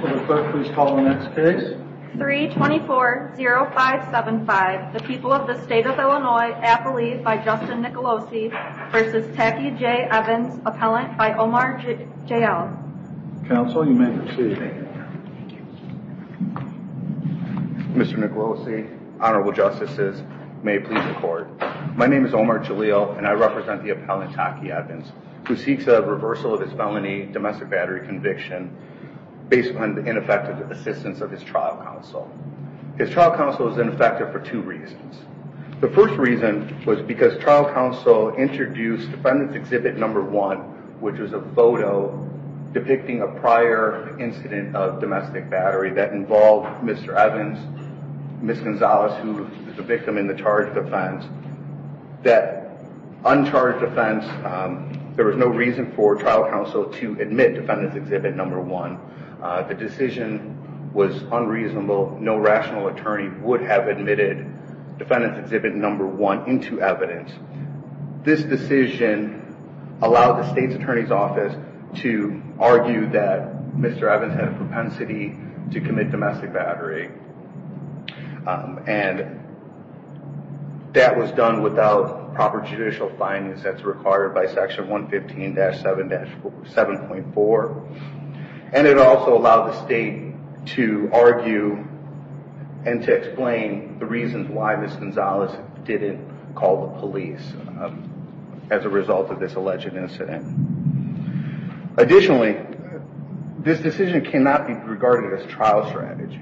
324-0575. The people of the state of Illinois. Appellee by Justin Nicolosi v. Tacky J. Evans. Appellant by Omar J. J. L. Counsel, you may proceed. Mr. Nicolosi, Honorable Justices, may it please the court. My name is Omar Jalil and I represent the appellant Tacky Evans, who seeks a reversal of his felony domestic battery conviction based on the ineffective assistance of his trial counsel. His trial counsel is ineffective for two reasons. The first reason was because trial counsel introduced Defendant's Exhibit No. 1, which was a photo depicting a prior incident of domestic battery that involved Mr. Evans, Ms. Gonzalez, who is the victim in the charge of defense. There was no reason for trial counsel to admit Defendant's Exhibit No. 1. The decision was unreasonable. No rational attorney would have admitted Defendant's Exhibit No. 1 into evidence. This decision allowed the state's attorney's office to argue that Mr. Evans had a propensity to commit domestic battery and that was done without proper judicial finance as required by Section 115-7.4. And it also allowed the state to argue and to explain the reasons why Ms. Gonzalez didn't call the police as a result of this alleged incident. Additionally, this decision cannot be regarded as trial strategy.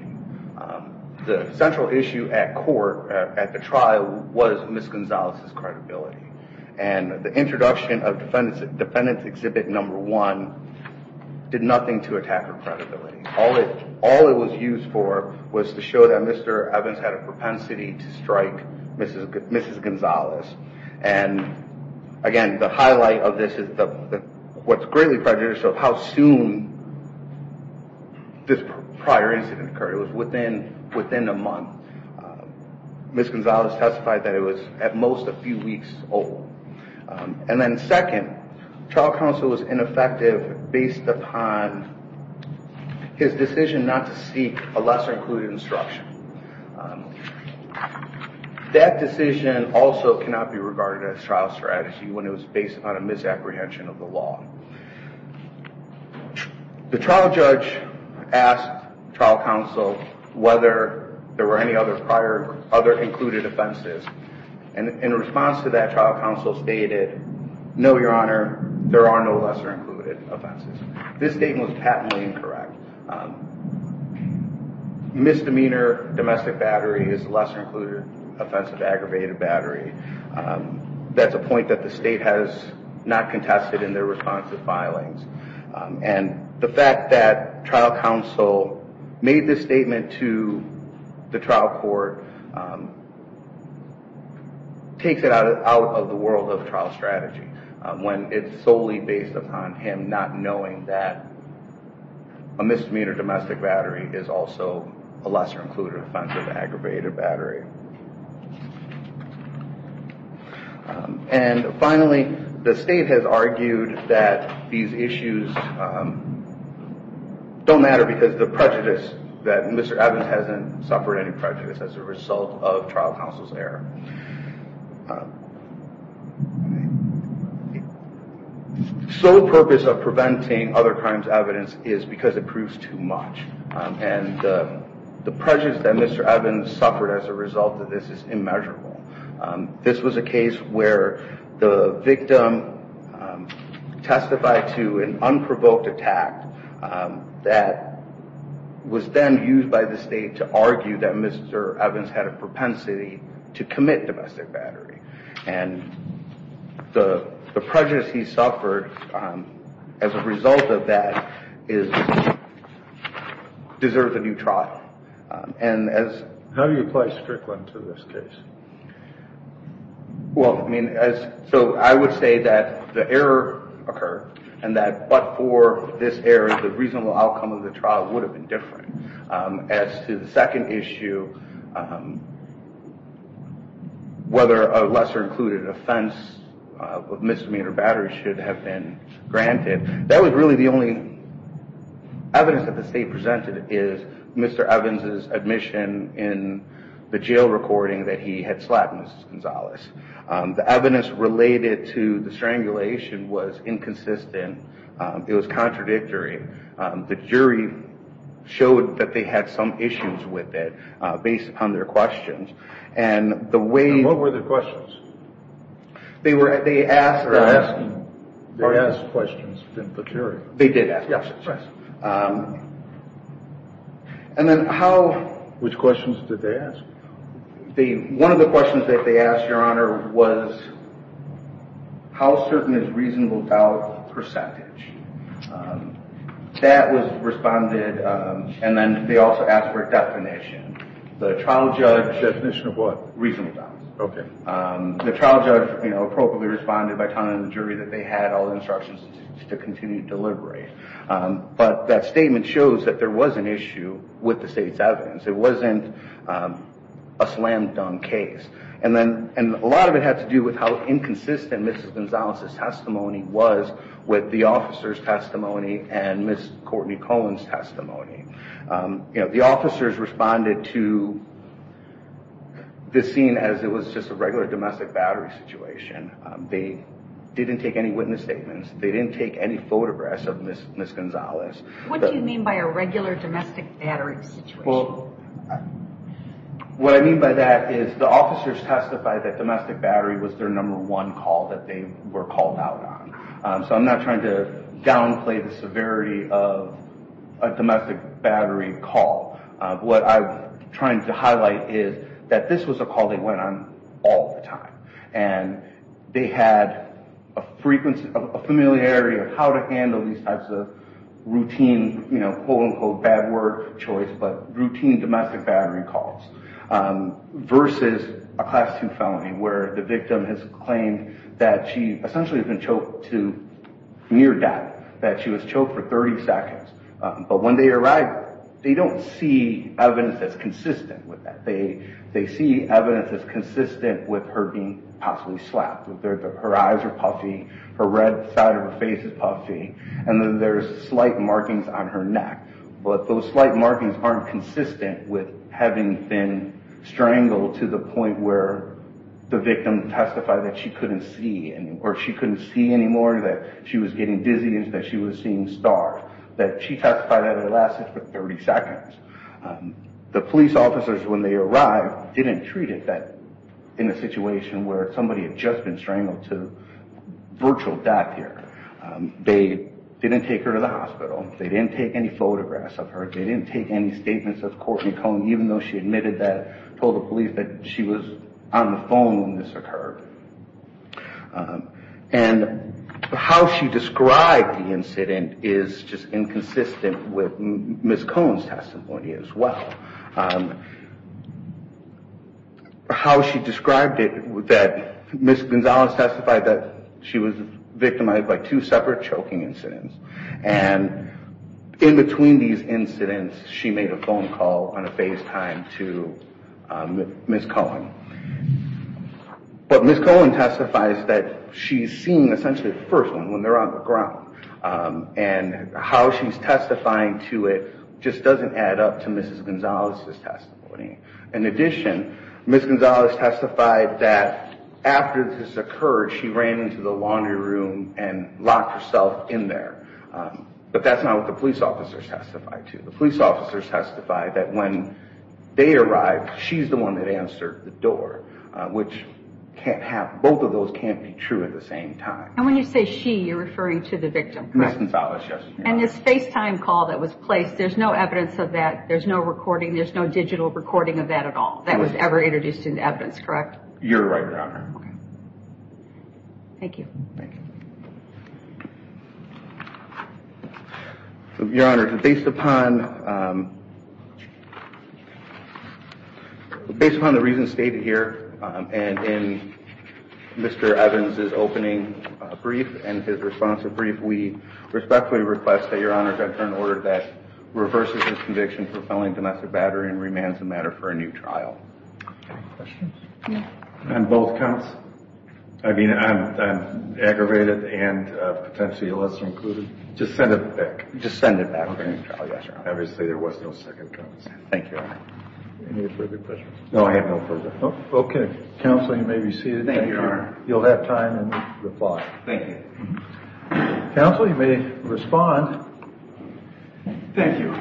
The central issue at court, at the trial, was Ms. Gonzalez's credibility. And the introduction of Defendant's Exhibit No. 1 did nothing to attack her credibility. All it was used for was to show that Mr. Evans had a what's greatly prejudicial of how soon this prior incident occurred. It was within a month. Ms. Gonzalez testified that it was at most a few weeks old. And then second, trial counsel was ineffective based upon his decision not to seek a lesser included instruction. That decision also cannot be regarded as trial strategy when it was based on a misapprehension of the law. The trial judge asked trial counsel whether there were any other prior, other included offenses. And in response to that, trial counsel stated, no, your honor, there are no lesser included offenses. This statement was patently incorrect. Misdemeanor domestic battery is a lesser included offense of aggravated battery. That's a point that the state has not contested in their responsive filings. And the fact that trial counsel made this statement to the trial court takes it out of the world of trial strategy when it's solely based upon him not knowing that a misdemeanor domestic battery is also a lesser included offense of aggravated battery. And finally, the state has argued that these issues don't matter because the prejudice that Mr. Evans hasn't suffered any prejudice as a result of trial counsel's error. The sole purpose of preventing other crimes evidence is because it proves too much. And the prejudice that Mr. Evans suffered as a result of this is immeasurable. This was a case where the victim testified to an How do you apply Strickland to this case? Well, I mean, so I would say that the error occurred and that but for this error, the reasonable outcome of the trial would have been evidence that the state presented is Mr. Evans's admission in the jail recording that he had slapped Mrs. Gonzalez. The evidence related to the strangulation was inconsistent. It was contradictory. The jury showed that they had some issues with it based upon their questions. And the way... And what were their questions? They were, they asked... They asked questions to the jury. They did ask questions. And then how... Which questions did they ask? One of the questions that they asked, Your Honor, was how certain is reasonable doubt percentage? That was responded... And then they also asked for a definition. The trial judge... Definition of what? Reasonable doubt. Okay. The trial judge appropriately responded by telling the jury that they had all the instructions to continue to deliberate. But that statement shows that there was an issue with the state's evidence. It wasn't a slam-dunk case. And then... And a lot of it had to do with how inconsistent Mrs. Gonzalez's testimony was with the officer's testimony and Ms. Courtney Cohen's testimony. You know, the officers responded to this scene as it was just a regular domestic battery situation. They didn't take any witness statements. They didn't take any photographs of Ms. Gonzalez. What do you mean by a regular domestic battery situation? Well, what I mean by that is the officers testified that domestic battery was their number one call that they were called out on. So I'm not trying to downplay the severity of a domestic battery call. What I'm trying to highlight is that this was a call that went on all the time. And they had a frequency, a familiarity of how to handle these types of routine, you know, quote-unquote bad word choice, but routine domestic battery calls versus a Class 2 felony where the victim has claimed that she essentially has been choked to near death. That she was choked for 30 seconds. But when they arrived, they don't see evidence that's consistent with that. They see evidence that's consistent with her being possibly slapped. Her eyes are puffy. Her red side of her face is puffy. And there's slight markings on her neck. But those slight markings aren't consistent with having been strangled to the point where the victim testified that she couldn't see or she couldn't see anymore, that she was getting dizzy, that she was seeing stars. That she testified that it lasted for 30 seconds. The police officers, when they arrived, didn't treat it that in a situation where somebody had just been strangled to virtual death here. They didn't take her to the hospital. They didn't take any photographs of her. They didn't take any statements of Courtney Cohen, even though she admitted that, told the police that she was on the phone when this occurred. And how she described the incident is just inconsistent with Ms. Cohen's testimony as well. How she described it, that Ms. Gonzalez testified that she was victimized by two separate choking incidents. And in between these incidents, she made a phone call on a FaceTime to Ms. Cohen. But Ms. Cohen testifies that she's seen essentially the first one when they're on the ground. And how she's testifying to it just doesn't add up to Ms. Gonzalez's testimony. In addition, Ms. Gonzalez testified that after this occurred, she ran into the laundry room and locked herself in there. But that's not what the police officers testified to. The police officers testified that when they arrived, she's the one that answered the door, which both of those can't be true at the same time. And when you say she, you're referring to the victim, correct? Ms. Gonzalez, yes. And this FaceTime call that was placed, there's no evidence of that. There's no recording. There's no digital recording of that at all that was ever introduced into evidence, correct? You're right, Your Honor. Thank you. Thank you. Your Honor, based upon the reasons stated here and in Mr. Evans' opening brief and his response to the brief, we respectfully request that Your Honor to enter an order that reverses his conviction for felling domestic battery and remands the matter for a new trial. Any questions? No. On both counts? I mean, on aggravated and potentially lesser included? Just send it back. Just send it back for a new trial, yes, Your Honor. Obviously, there was no second count. Thank you, Your Honor. Any further questions? No, I have no further. Okay. Counsel, you may be seated. Thank you, Your Honor. You'll have time to reply. Thank you. Counsel, you may respond. Thank you.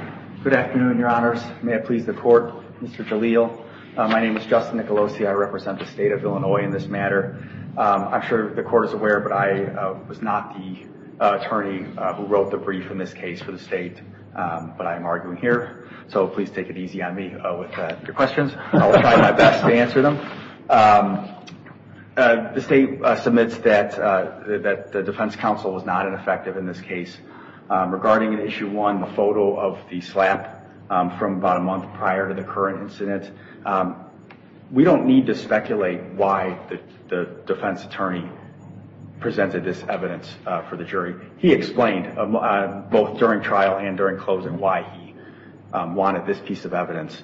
Good afternoon, Your Honors. May it please the Court. Mr. Jalil, my name is Justin Nicolosi. I represent the state of Illinois in this matter. I'm sure the Court is aware, but I was not the attorney who wrote the brief in this case for the state, but I am arguing here. So please take it easy on me with your questions. I will try my best to answer them. The state submits that the defense counsel was not ineffective in this case. Regarding Issue 1, the photo of the slap from about a month prior to the current incident, we don't need to speculate why the defense attorney presented this evidence for the jury. He explained both during trial and during closing why he wanted this piece of evidence.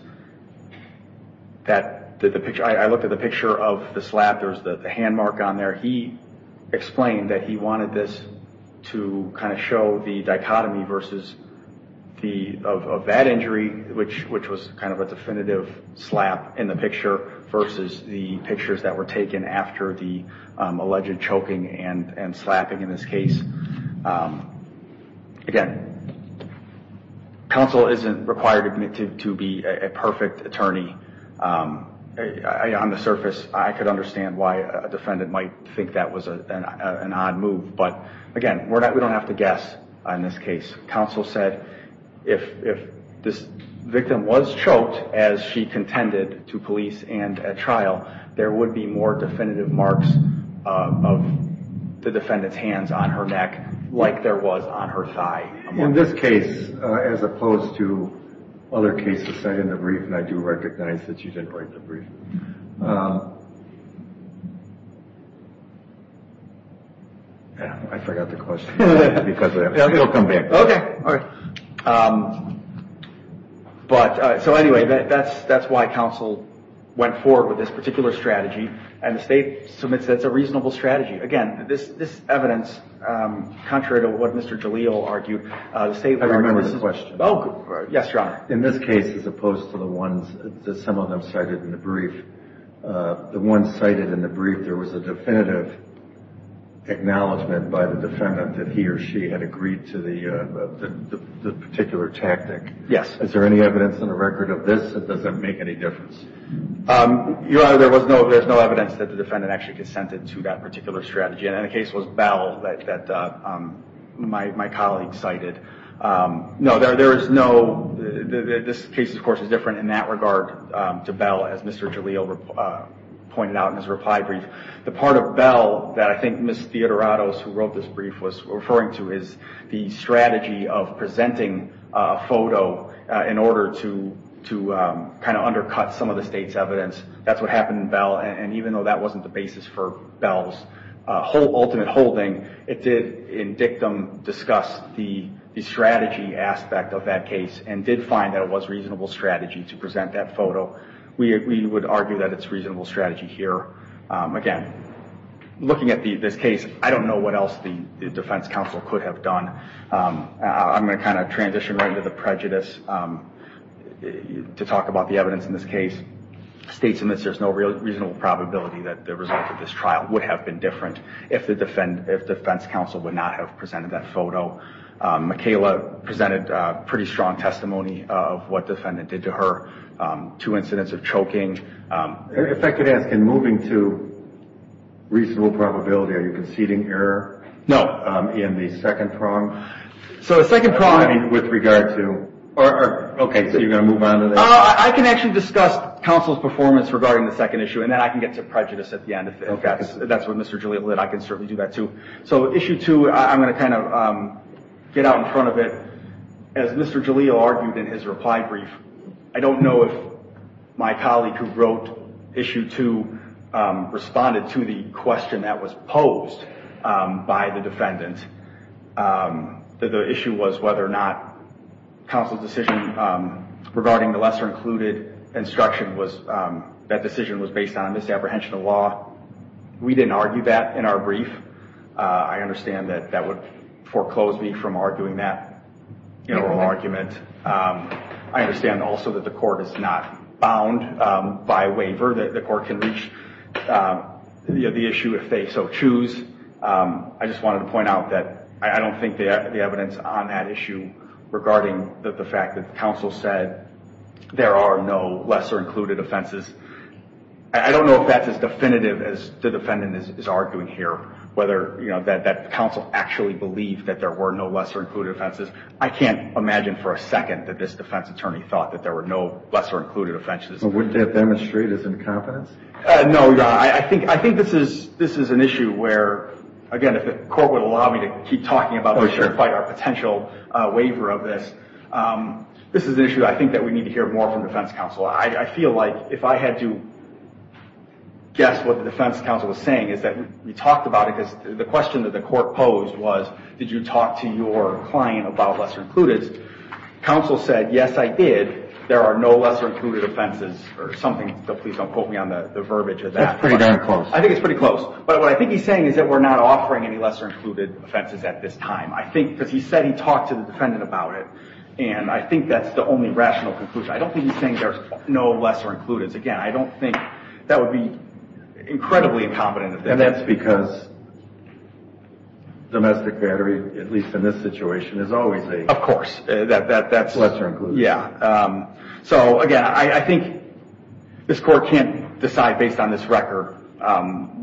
I looked at the picture of the slap. There's the hand mark on there. He explained that he wanted this to kind of show the dichotomy of that injury, which was kind of a definitive slap in the picture, versus the pictures that were taken after the alleged choking and slapping in this case. Again, counsel isn't required to be a perfect attorney. On the surface, I could understand why a defendant might think that was an odd move, but again, we don't have to guess on this case. Counsel said if this victim was choked as she contended to police and at trial, there would be more definitive marks of the defendant's hands on her neck like there was on her thigh. In this case, as opposed to other cases cited in the brief, and I do recognize that you didn't write the brief. Anyway, that's why counsel went forward with this particular strategy, and the state submits that it's a reasonable strategy. Again, this evidence, contrary to what Mr. Jalil argued, the state argument is... I remember this question. Oh, yes, Your Honor. In this case, as opposed to the ones that some of them cited in the brief, the ones cited in the brief, there was a definitive acknowledgment by the defendant that he or she had agreed to the particular tactic. Yes. Is there any evidence in the record of this that doesn't make any difference? Your Honor, there's no evidence that the defendant actually consented to that particular strategy, and the case was Bell that my colleague cited. No, there is no... This case, of course, is different in that regard to Bell, as Mr. Jalil pointed out in his reply brief. The part of Bell that I think Ms. Theodorados, who wrote this brief, was referring to is the strategy of presenting a photo in order to kind of undercut some of the state's evidence. That's what happened in Bell, and even though that wasn't the basis for Bell's ultimate holding, it did, in dictum, discuss the strategy aspect of that case and did find that it was a reasonable strategy to present that photo. We would argue that it's a reasonable strategy here. Again, looking at this case, I don't know what else the defense counsel could have done. I'm going to kind of transition right into the prejudice to talk about the evidence in this case. It states in this there's no reasonable probability that the result of this trial would have been different if the defense counsel would not have presented that photo. Mikayla presented pretty strong testimony of what the defendant did to her. Two incidents of choking. If I could ask, in moving to reasonable probability, are you conceding error? No. In the second prong? So the second prong— With regard to— Okay, so you're going to move on to that? I can actually discuss counsel's performance regarding the second issue, and then I can get to prejudice at the end, if that's what Mr. Giulio did. I can certainly do that, too. So issue two, I'm going to kind of get out in front of it. As Mr. Giulio argued in his reply brief, I don't know if my colleague who wrote issue two responded to the question that was posed by the defendant. The issue was whether or not counsel's decision regarding the lesser-included instruction was— that decision was based on misapprehension of law. We didn't argue that in our brief. I understand that that would foreclose me from arguing that in an oral argument. I understand also that the court is not bound by waiver. The court can reach the issue if they so choose. I just wanted to point out that I don't think the evidence on that issue, regarding the fact that counsel said there are no lesser-included offenses, I don't know if that's as definitive as the defendant is arguing here, whether that counsel actually believed that there were no lesser-included offenses. I can't imagine for a second that this defense attorney thought that there were no lesser-included offenses. But wouldn't that demonstrate his incompetence? No. I think this is an issue where, again, if the court would allow me to keep talking about this— Oh, sure. —and fight our potential waiver of this, this is an issue I think that we need to hear more from defense counsel. I feel like if I had to guess what the defense counsel was saying is that we talked about it because the question that the court posed was, did you talk to your client about lesser-includeds? Counsel said, yes, I did. There are no lesser-included offenses or something. So please don't quote me on the verbiage of that. That's pretty darn close. I think it's pretty close. But what I think he's saying is that we're not offering any lesser-included offenses at this time. I think because he said he talked to the defendant about it, and I think that's the only rational conclusion. I don't think he's saying there's no lesser-includeds. Again, I don't think that would be incredibly incompetent. And that's because domestic battery, at least in this situation, is always a— Of course. —lesser-included. Yeah. So, again, I think this court can't decide based on this record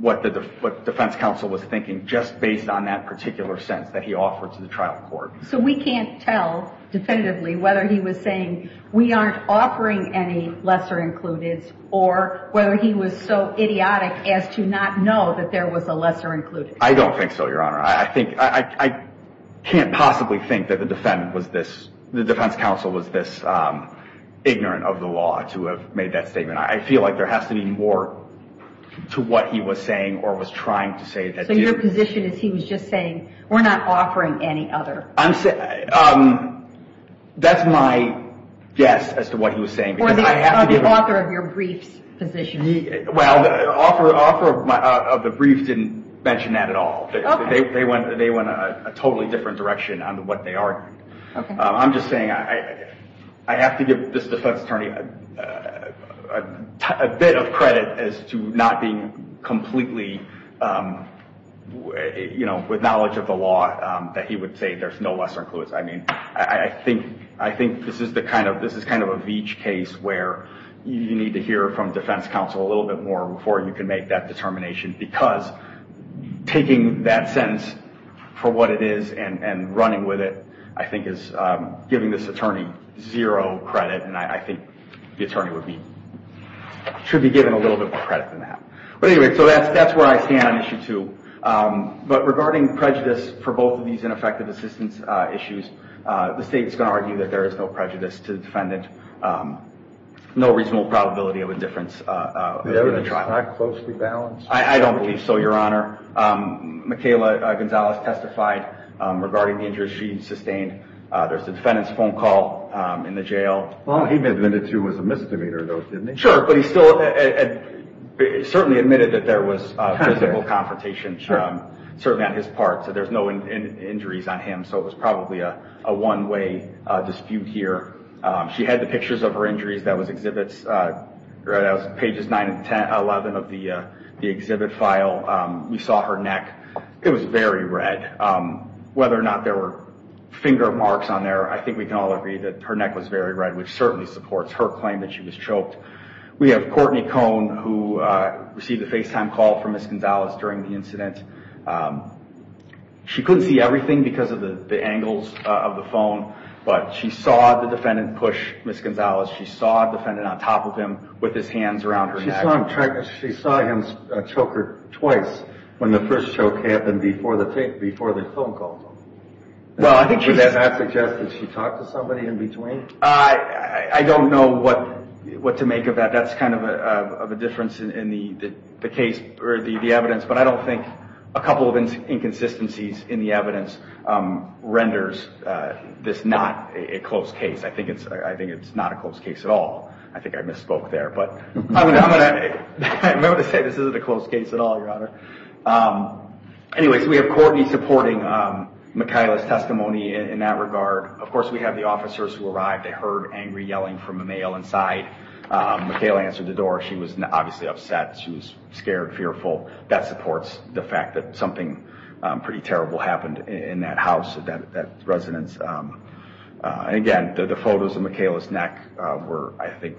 what the defense counsel was thinking just based on that particular sentence that he offered to the trial court. So we can't tell definitively whether he was saying we aren't offering any lesser-includeds or whether he was so idiotic as to not know that there was a lesser-included. I don't think so, Your Honor. I can't possibly think that the defense counsel was this ignorant of the law to have made that statement. I feel like there has to be more to what he was saying or was trying to say that did. So your position is he was just saying we're not offering any other. That's my guess as to what he was saying. Or the author of your brief's position. Well, the author of the brief didn't mention that at all. They went a totally different direction on what they argued. I'm just saying I have to give this defense attorney a bit of credit as to not being completely, you know, with knowledge of the law that he would say there's no lesser-includes. I mean, I think this is kind of a Veech case where you need to hear from defense counsel a little bit more before you can make that determination because taking that sentence for what it is and running with it, I think is giving this attorney zero credit. And I think the attorney should be given a little bit more credit than that. But anyway, so that's where I stand on issue two. But regarding prejudice for both of these ineffective assistance issues, the state's going to argue that there is no prejudice to the defendant, no reasonable probability of indifference in the trial. The evidence is not closely balanced. I don't believe so, Your Honor. Michaela Gonzalez testified regarding the injuries she sustained. There's the defendant's phone call in the jail. Well, he admitted to was a misdemeanor, though, didn't he? Sure, but he certainly admitted that there was physical confrontation, certainly on his part, so there's no injuries on him, so it was probably a one-way dispute here. She had the pictures of her injuries. That was Pages 9 and 11 of the exhibit file. We saw her neck. It was very red. Whether or not there were finger marks on there, I think we can all agree that her neck was very red, which certainly supports her claim that she was choked. We have Courtney Cohn, who received a FaceTime call from Ms. Gonzalez during the incident. She couldn't see everything because of the angles of the phone, but she saw the defendant push Ms. Gonzalez. She saw the defendant on top of him with his hands around her neck. She saw him choke her twice when the first choke happened before the phone call. Does that suggest that she talked to somebody in between? I don't know what to make of that. That's kind of a difference in the evidence, but I don't think a couple of inconsistencies in the evidence renders this not a close case. I think it's not a close case at all. I think I misspoke there, but I'm going to say this isn't a close case at all, Your Honor. We have Courtney supporting Michaela's testimony in that regard. Of course, we have the officers who arrived. They heard angry yelling from a male inside. Michaela answered the door. She was obviously upset. She was scared, fearful. That supports the fact that something pretty terrible happened in that house, that residence. Again, the photos of Michaela's neck were, I think,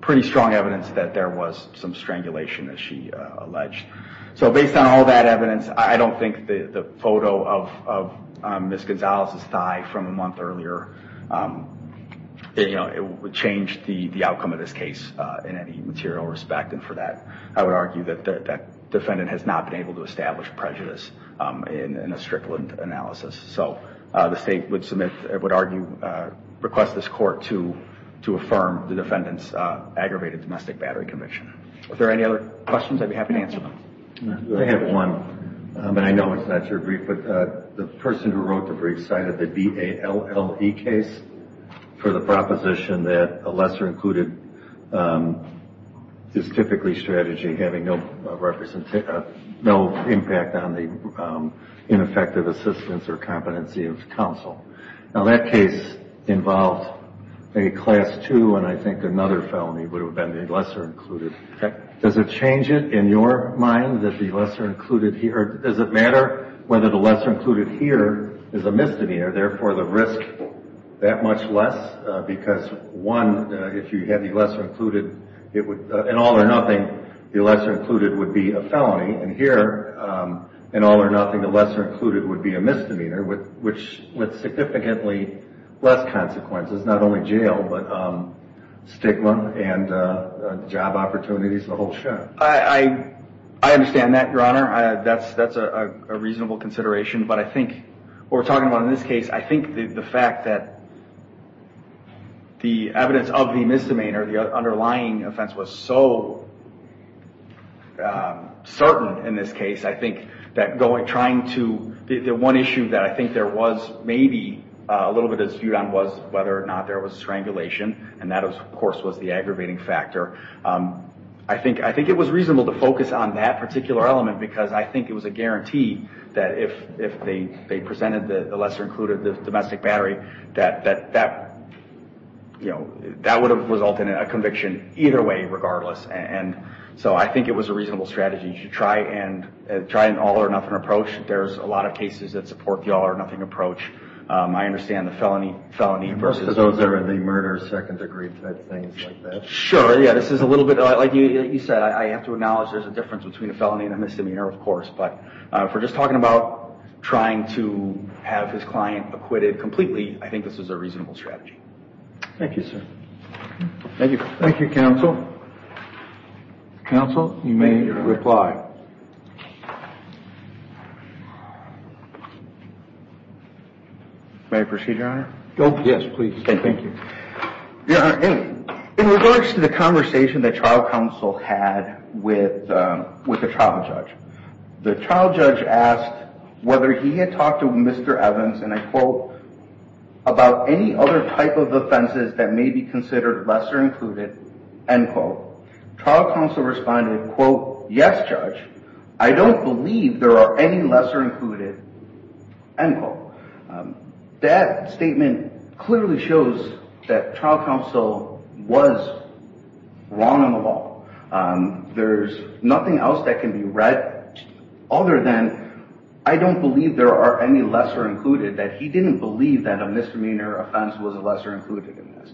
pretty strong evidence that there was some strangulation, as she alleged. Based on all that evidence, I don't think the photo of Ms. Gonzalez's thigh from a month earlier, it would change the outcome of this case in any material respect. For that, I would argue that that defendant has not been able to establish prejudice in a strickland analysis. The state would request this court to affirm the defendant's aggravated domestic battery conviction. Are there any other questions? I'd be happy to answer them. I have one, and I know it's not your brief, but the person who wrote the brief cited the D.A.L.L.E. case for the proposition that a lesser included is typically strategy, having no impact on the ineffective assistance or competency of counsel. Now, that case involved a Class II, and I think another felony would have been a lesser included. Does it change it in your mind that the lesser included here – does it matter whether the lesser included here is a misdemeanor, therefore the risk that much less? Because, one, if you had the lesser included, in all or nothing, the lesser included would be a felony. And here, in all or nothing, the lesser included would be a misdemeanor, with significantly less consequences, not only jail, but stigma and job opportunities, the whole show. I understand that, Your Honor. That's a reasonable consideration. But I think what we're talking about in this case, I think the fact that the evidence of the misdemeanor, the underlying offense, was so certain in this case, I think that trying to – the one issue that I think there was maybe a little bit of dispute on was whether or not there was strangulation, and that, of course, was the aggravating factor. I think it was reasonable to focus on that particular element, because I think it was a guarantee that if they presented the lesser included, the domestic battery, that would have resulted in a conviction either way, regardless. So I think it was a reasonable strategy. You should try an all or nothing approach. There's a lot of cases that support the all or nothing approach. I understand the felony versus the misdemeanor. Most of those are the murder, second degree things like that. Sure, yeah. This is a little bit – like you said, I have to acknowledge there's a difference between a felony and a misdemeanor, of course. But if we're just talking about trying to have his client acquitted completely, I think this is a reasonable strategy. Thank you, sir. Thank you. Thank you, counsel. Counsel, you may reply. May I proceed, Your Honor? Yes, please. Thank you. Your Honor, in regards to the conversation that trial counsel had with the trial judge, the trial judge asked whether he had talked to Mr. Evans, and I quote, about any other type of offenses that may be considered lesser included, end quote. Trial counsel responded, quote, yes, judge. I don't believe there are any lesser included, end quote. That statement clearly shows that trial counsel was wrong on the ball. There's nothing else that can be read other than I don't believe there are any lesser included, that he didn't believe that a misdemeanor offense was a lesser included offense.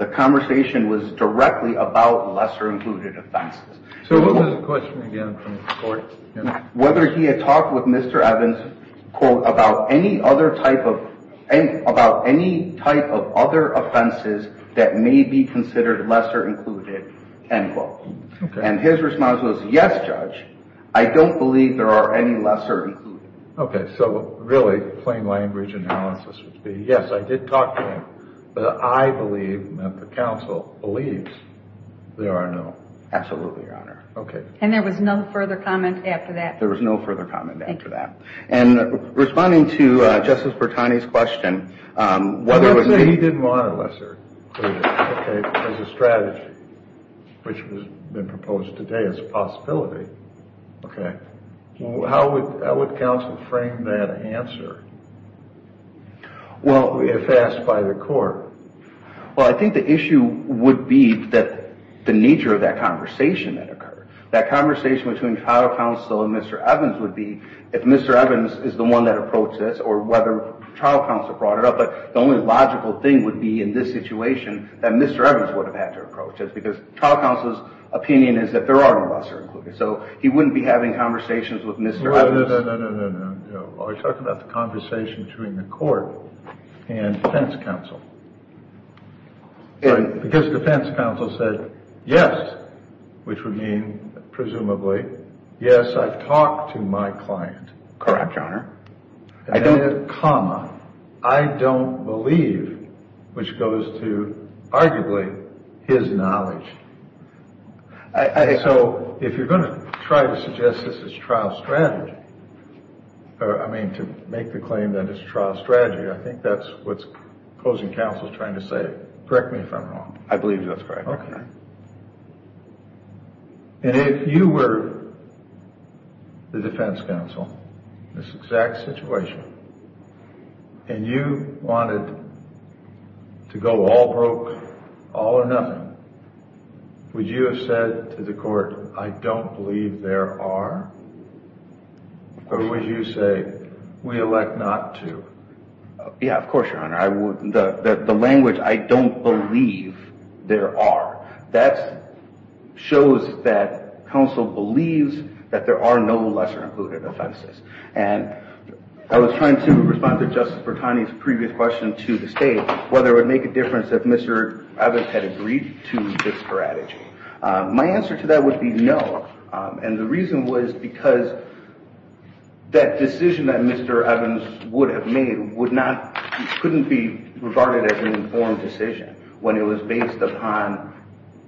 The conversation was directly about lesser included offenses. So what was the question again from the court? Whether he had talked with Mr. Evans, quote, about any other type of, about any type of other offenses that may be considered lesser included, end quote. And his response was, yes, judge. I don't believe there are any lesser included. Okay, so really, plain language analysis would be, yes, I did talk to him, but I believe that the counsel believes there are no. Absolutely, Your Honor. Okay. And there was no further comment after that. There was no further comment after that. And responding to Justice Bertani's question, whether it was... Let's say he didn't want a lesser included, okay, as a strategy, which has been proposed today as a possibility, okay. How would counsel frame that answer? Well, if asked by the court. Well, I think the issue would be the nature of that conversation that occurred. That conversation between trial counsel and Mr. Evans would be, if Mr. Evans is the one that approached this, or whether trial counsel brought it up. But the only logical thing would be, in this situation, that Mr. Evans would have had to approach this. Because trial counsel's opinion is that there are no lesser included. So he wouldn't be having conversations with Mr. Evans. No, no, no, no, no, no, no. Are we talking about the conversation between the court and defense counsel? Because defense counsel said, yes, which would mean presumably, yes, I've talked to my client. Correct, Your Honor. And then a comma, I don't believe, which goes to arguably his knowledge. So if you're going to try to suggest this is trial strategy, I mean, to make the claim that it's trial strategy, I think that's what opposing counsel is trying to say. Correct me if I'm wrong. I believe that's correct, Your Honor. And if you were the defense counsel in this exact situation, and you wanted to go all broke, all or nothing, would you have said to the court, I don't believe there are, or would you say, we elect not to? Yeah, of course, Your Honor. The language, I don't believe there are, that shows that counsel believes that there are no lesser included offenses. And I was trying to respond to Justice Bertani's previous question to the state, whether it would make a difference if Mr. Evans had agreed to this strategy. My answer to that would be no, and the reason was because that decision that Mr. Evans would have made couldn't be regarded as an informed decision when it was based upon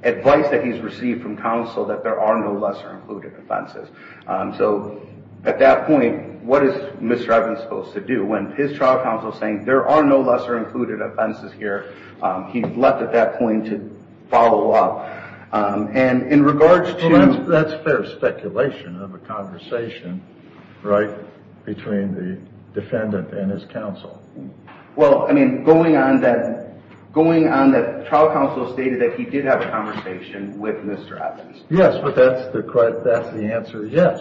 advice that he's received from counsel that there are no lesser included offenses. So at that point, what is Mr. Evans supposed to do? When his trial counsel is saying there are no lesser included offenses here, he's left at that point to follow up. And in regards to— Well, that's fair speculation of a conversation, right, between the defendant and his counsel. Well, I mean, going on that trial counsel stated that he did have a conversation with Mr. Evans. Yes, but that's the answer, yes,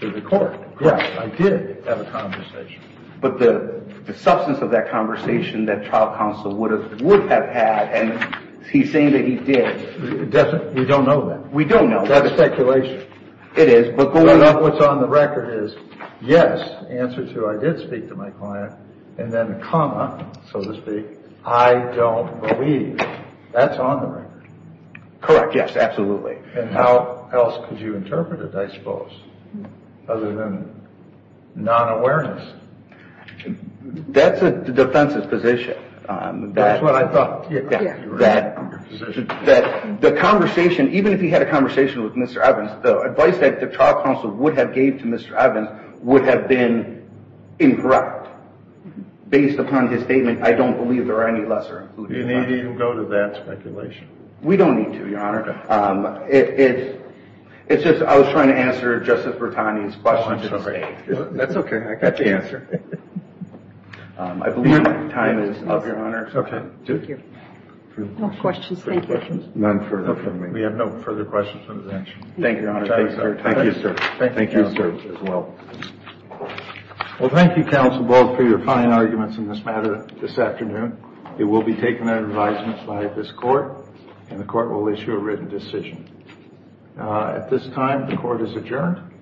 to the court. Yes, I did have a conversation. But the substance of that conversation that trial counsel would have had, and he's saying that he did. We don't know that. We don't know. That's speculation. It is, but going off what's on the record is, Yes, answer to I did speak to my client, and then a comma, so to speak, I don't believe. That's on the record. Correct, yes, absolutely. And how else could you interpret it, I suppose, other than non-awareness? That's the defense's position. That's what I thought. That the conversation, even if he had a conversation with Mr. Evans, the advice that the trial counsel would have gave to Mr. Evans would have been incorrect. Based upon his statement, I don't believe there are any lesser. You need to go to that speculation. We don't need to, Your Honor. Okay. It's just I was trying to answer Justice Bertani's question. Oh, I'm sorry. That's okay. I got the answer. I believe my time is up, Your Honor. Okay. Thank you. No questions. Thank you. None further from me. We have no further questions. Thank you, Your Honor. Thank you, sir. Thank you, sir. Thank you, counsel. Well, thank you, counsel, both, for your fine arguments in this matter this afternoon. It will be taken under advisement by this court, and the court will issue a written decision. At this time, the court is adjourned.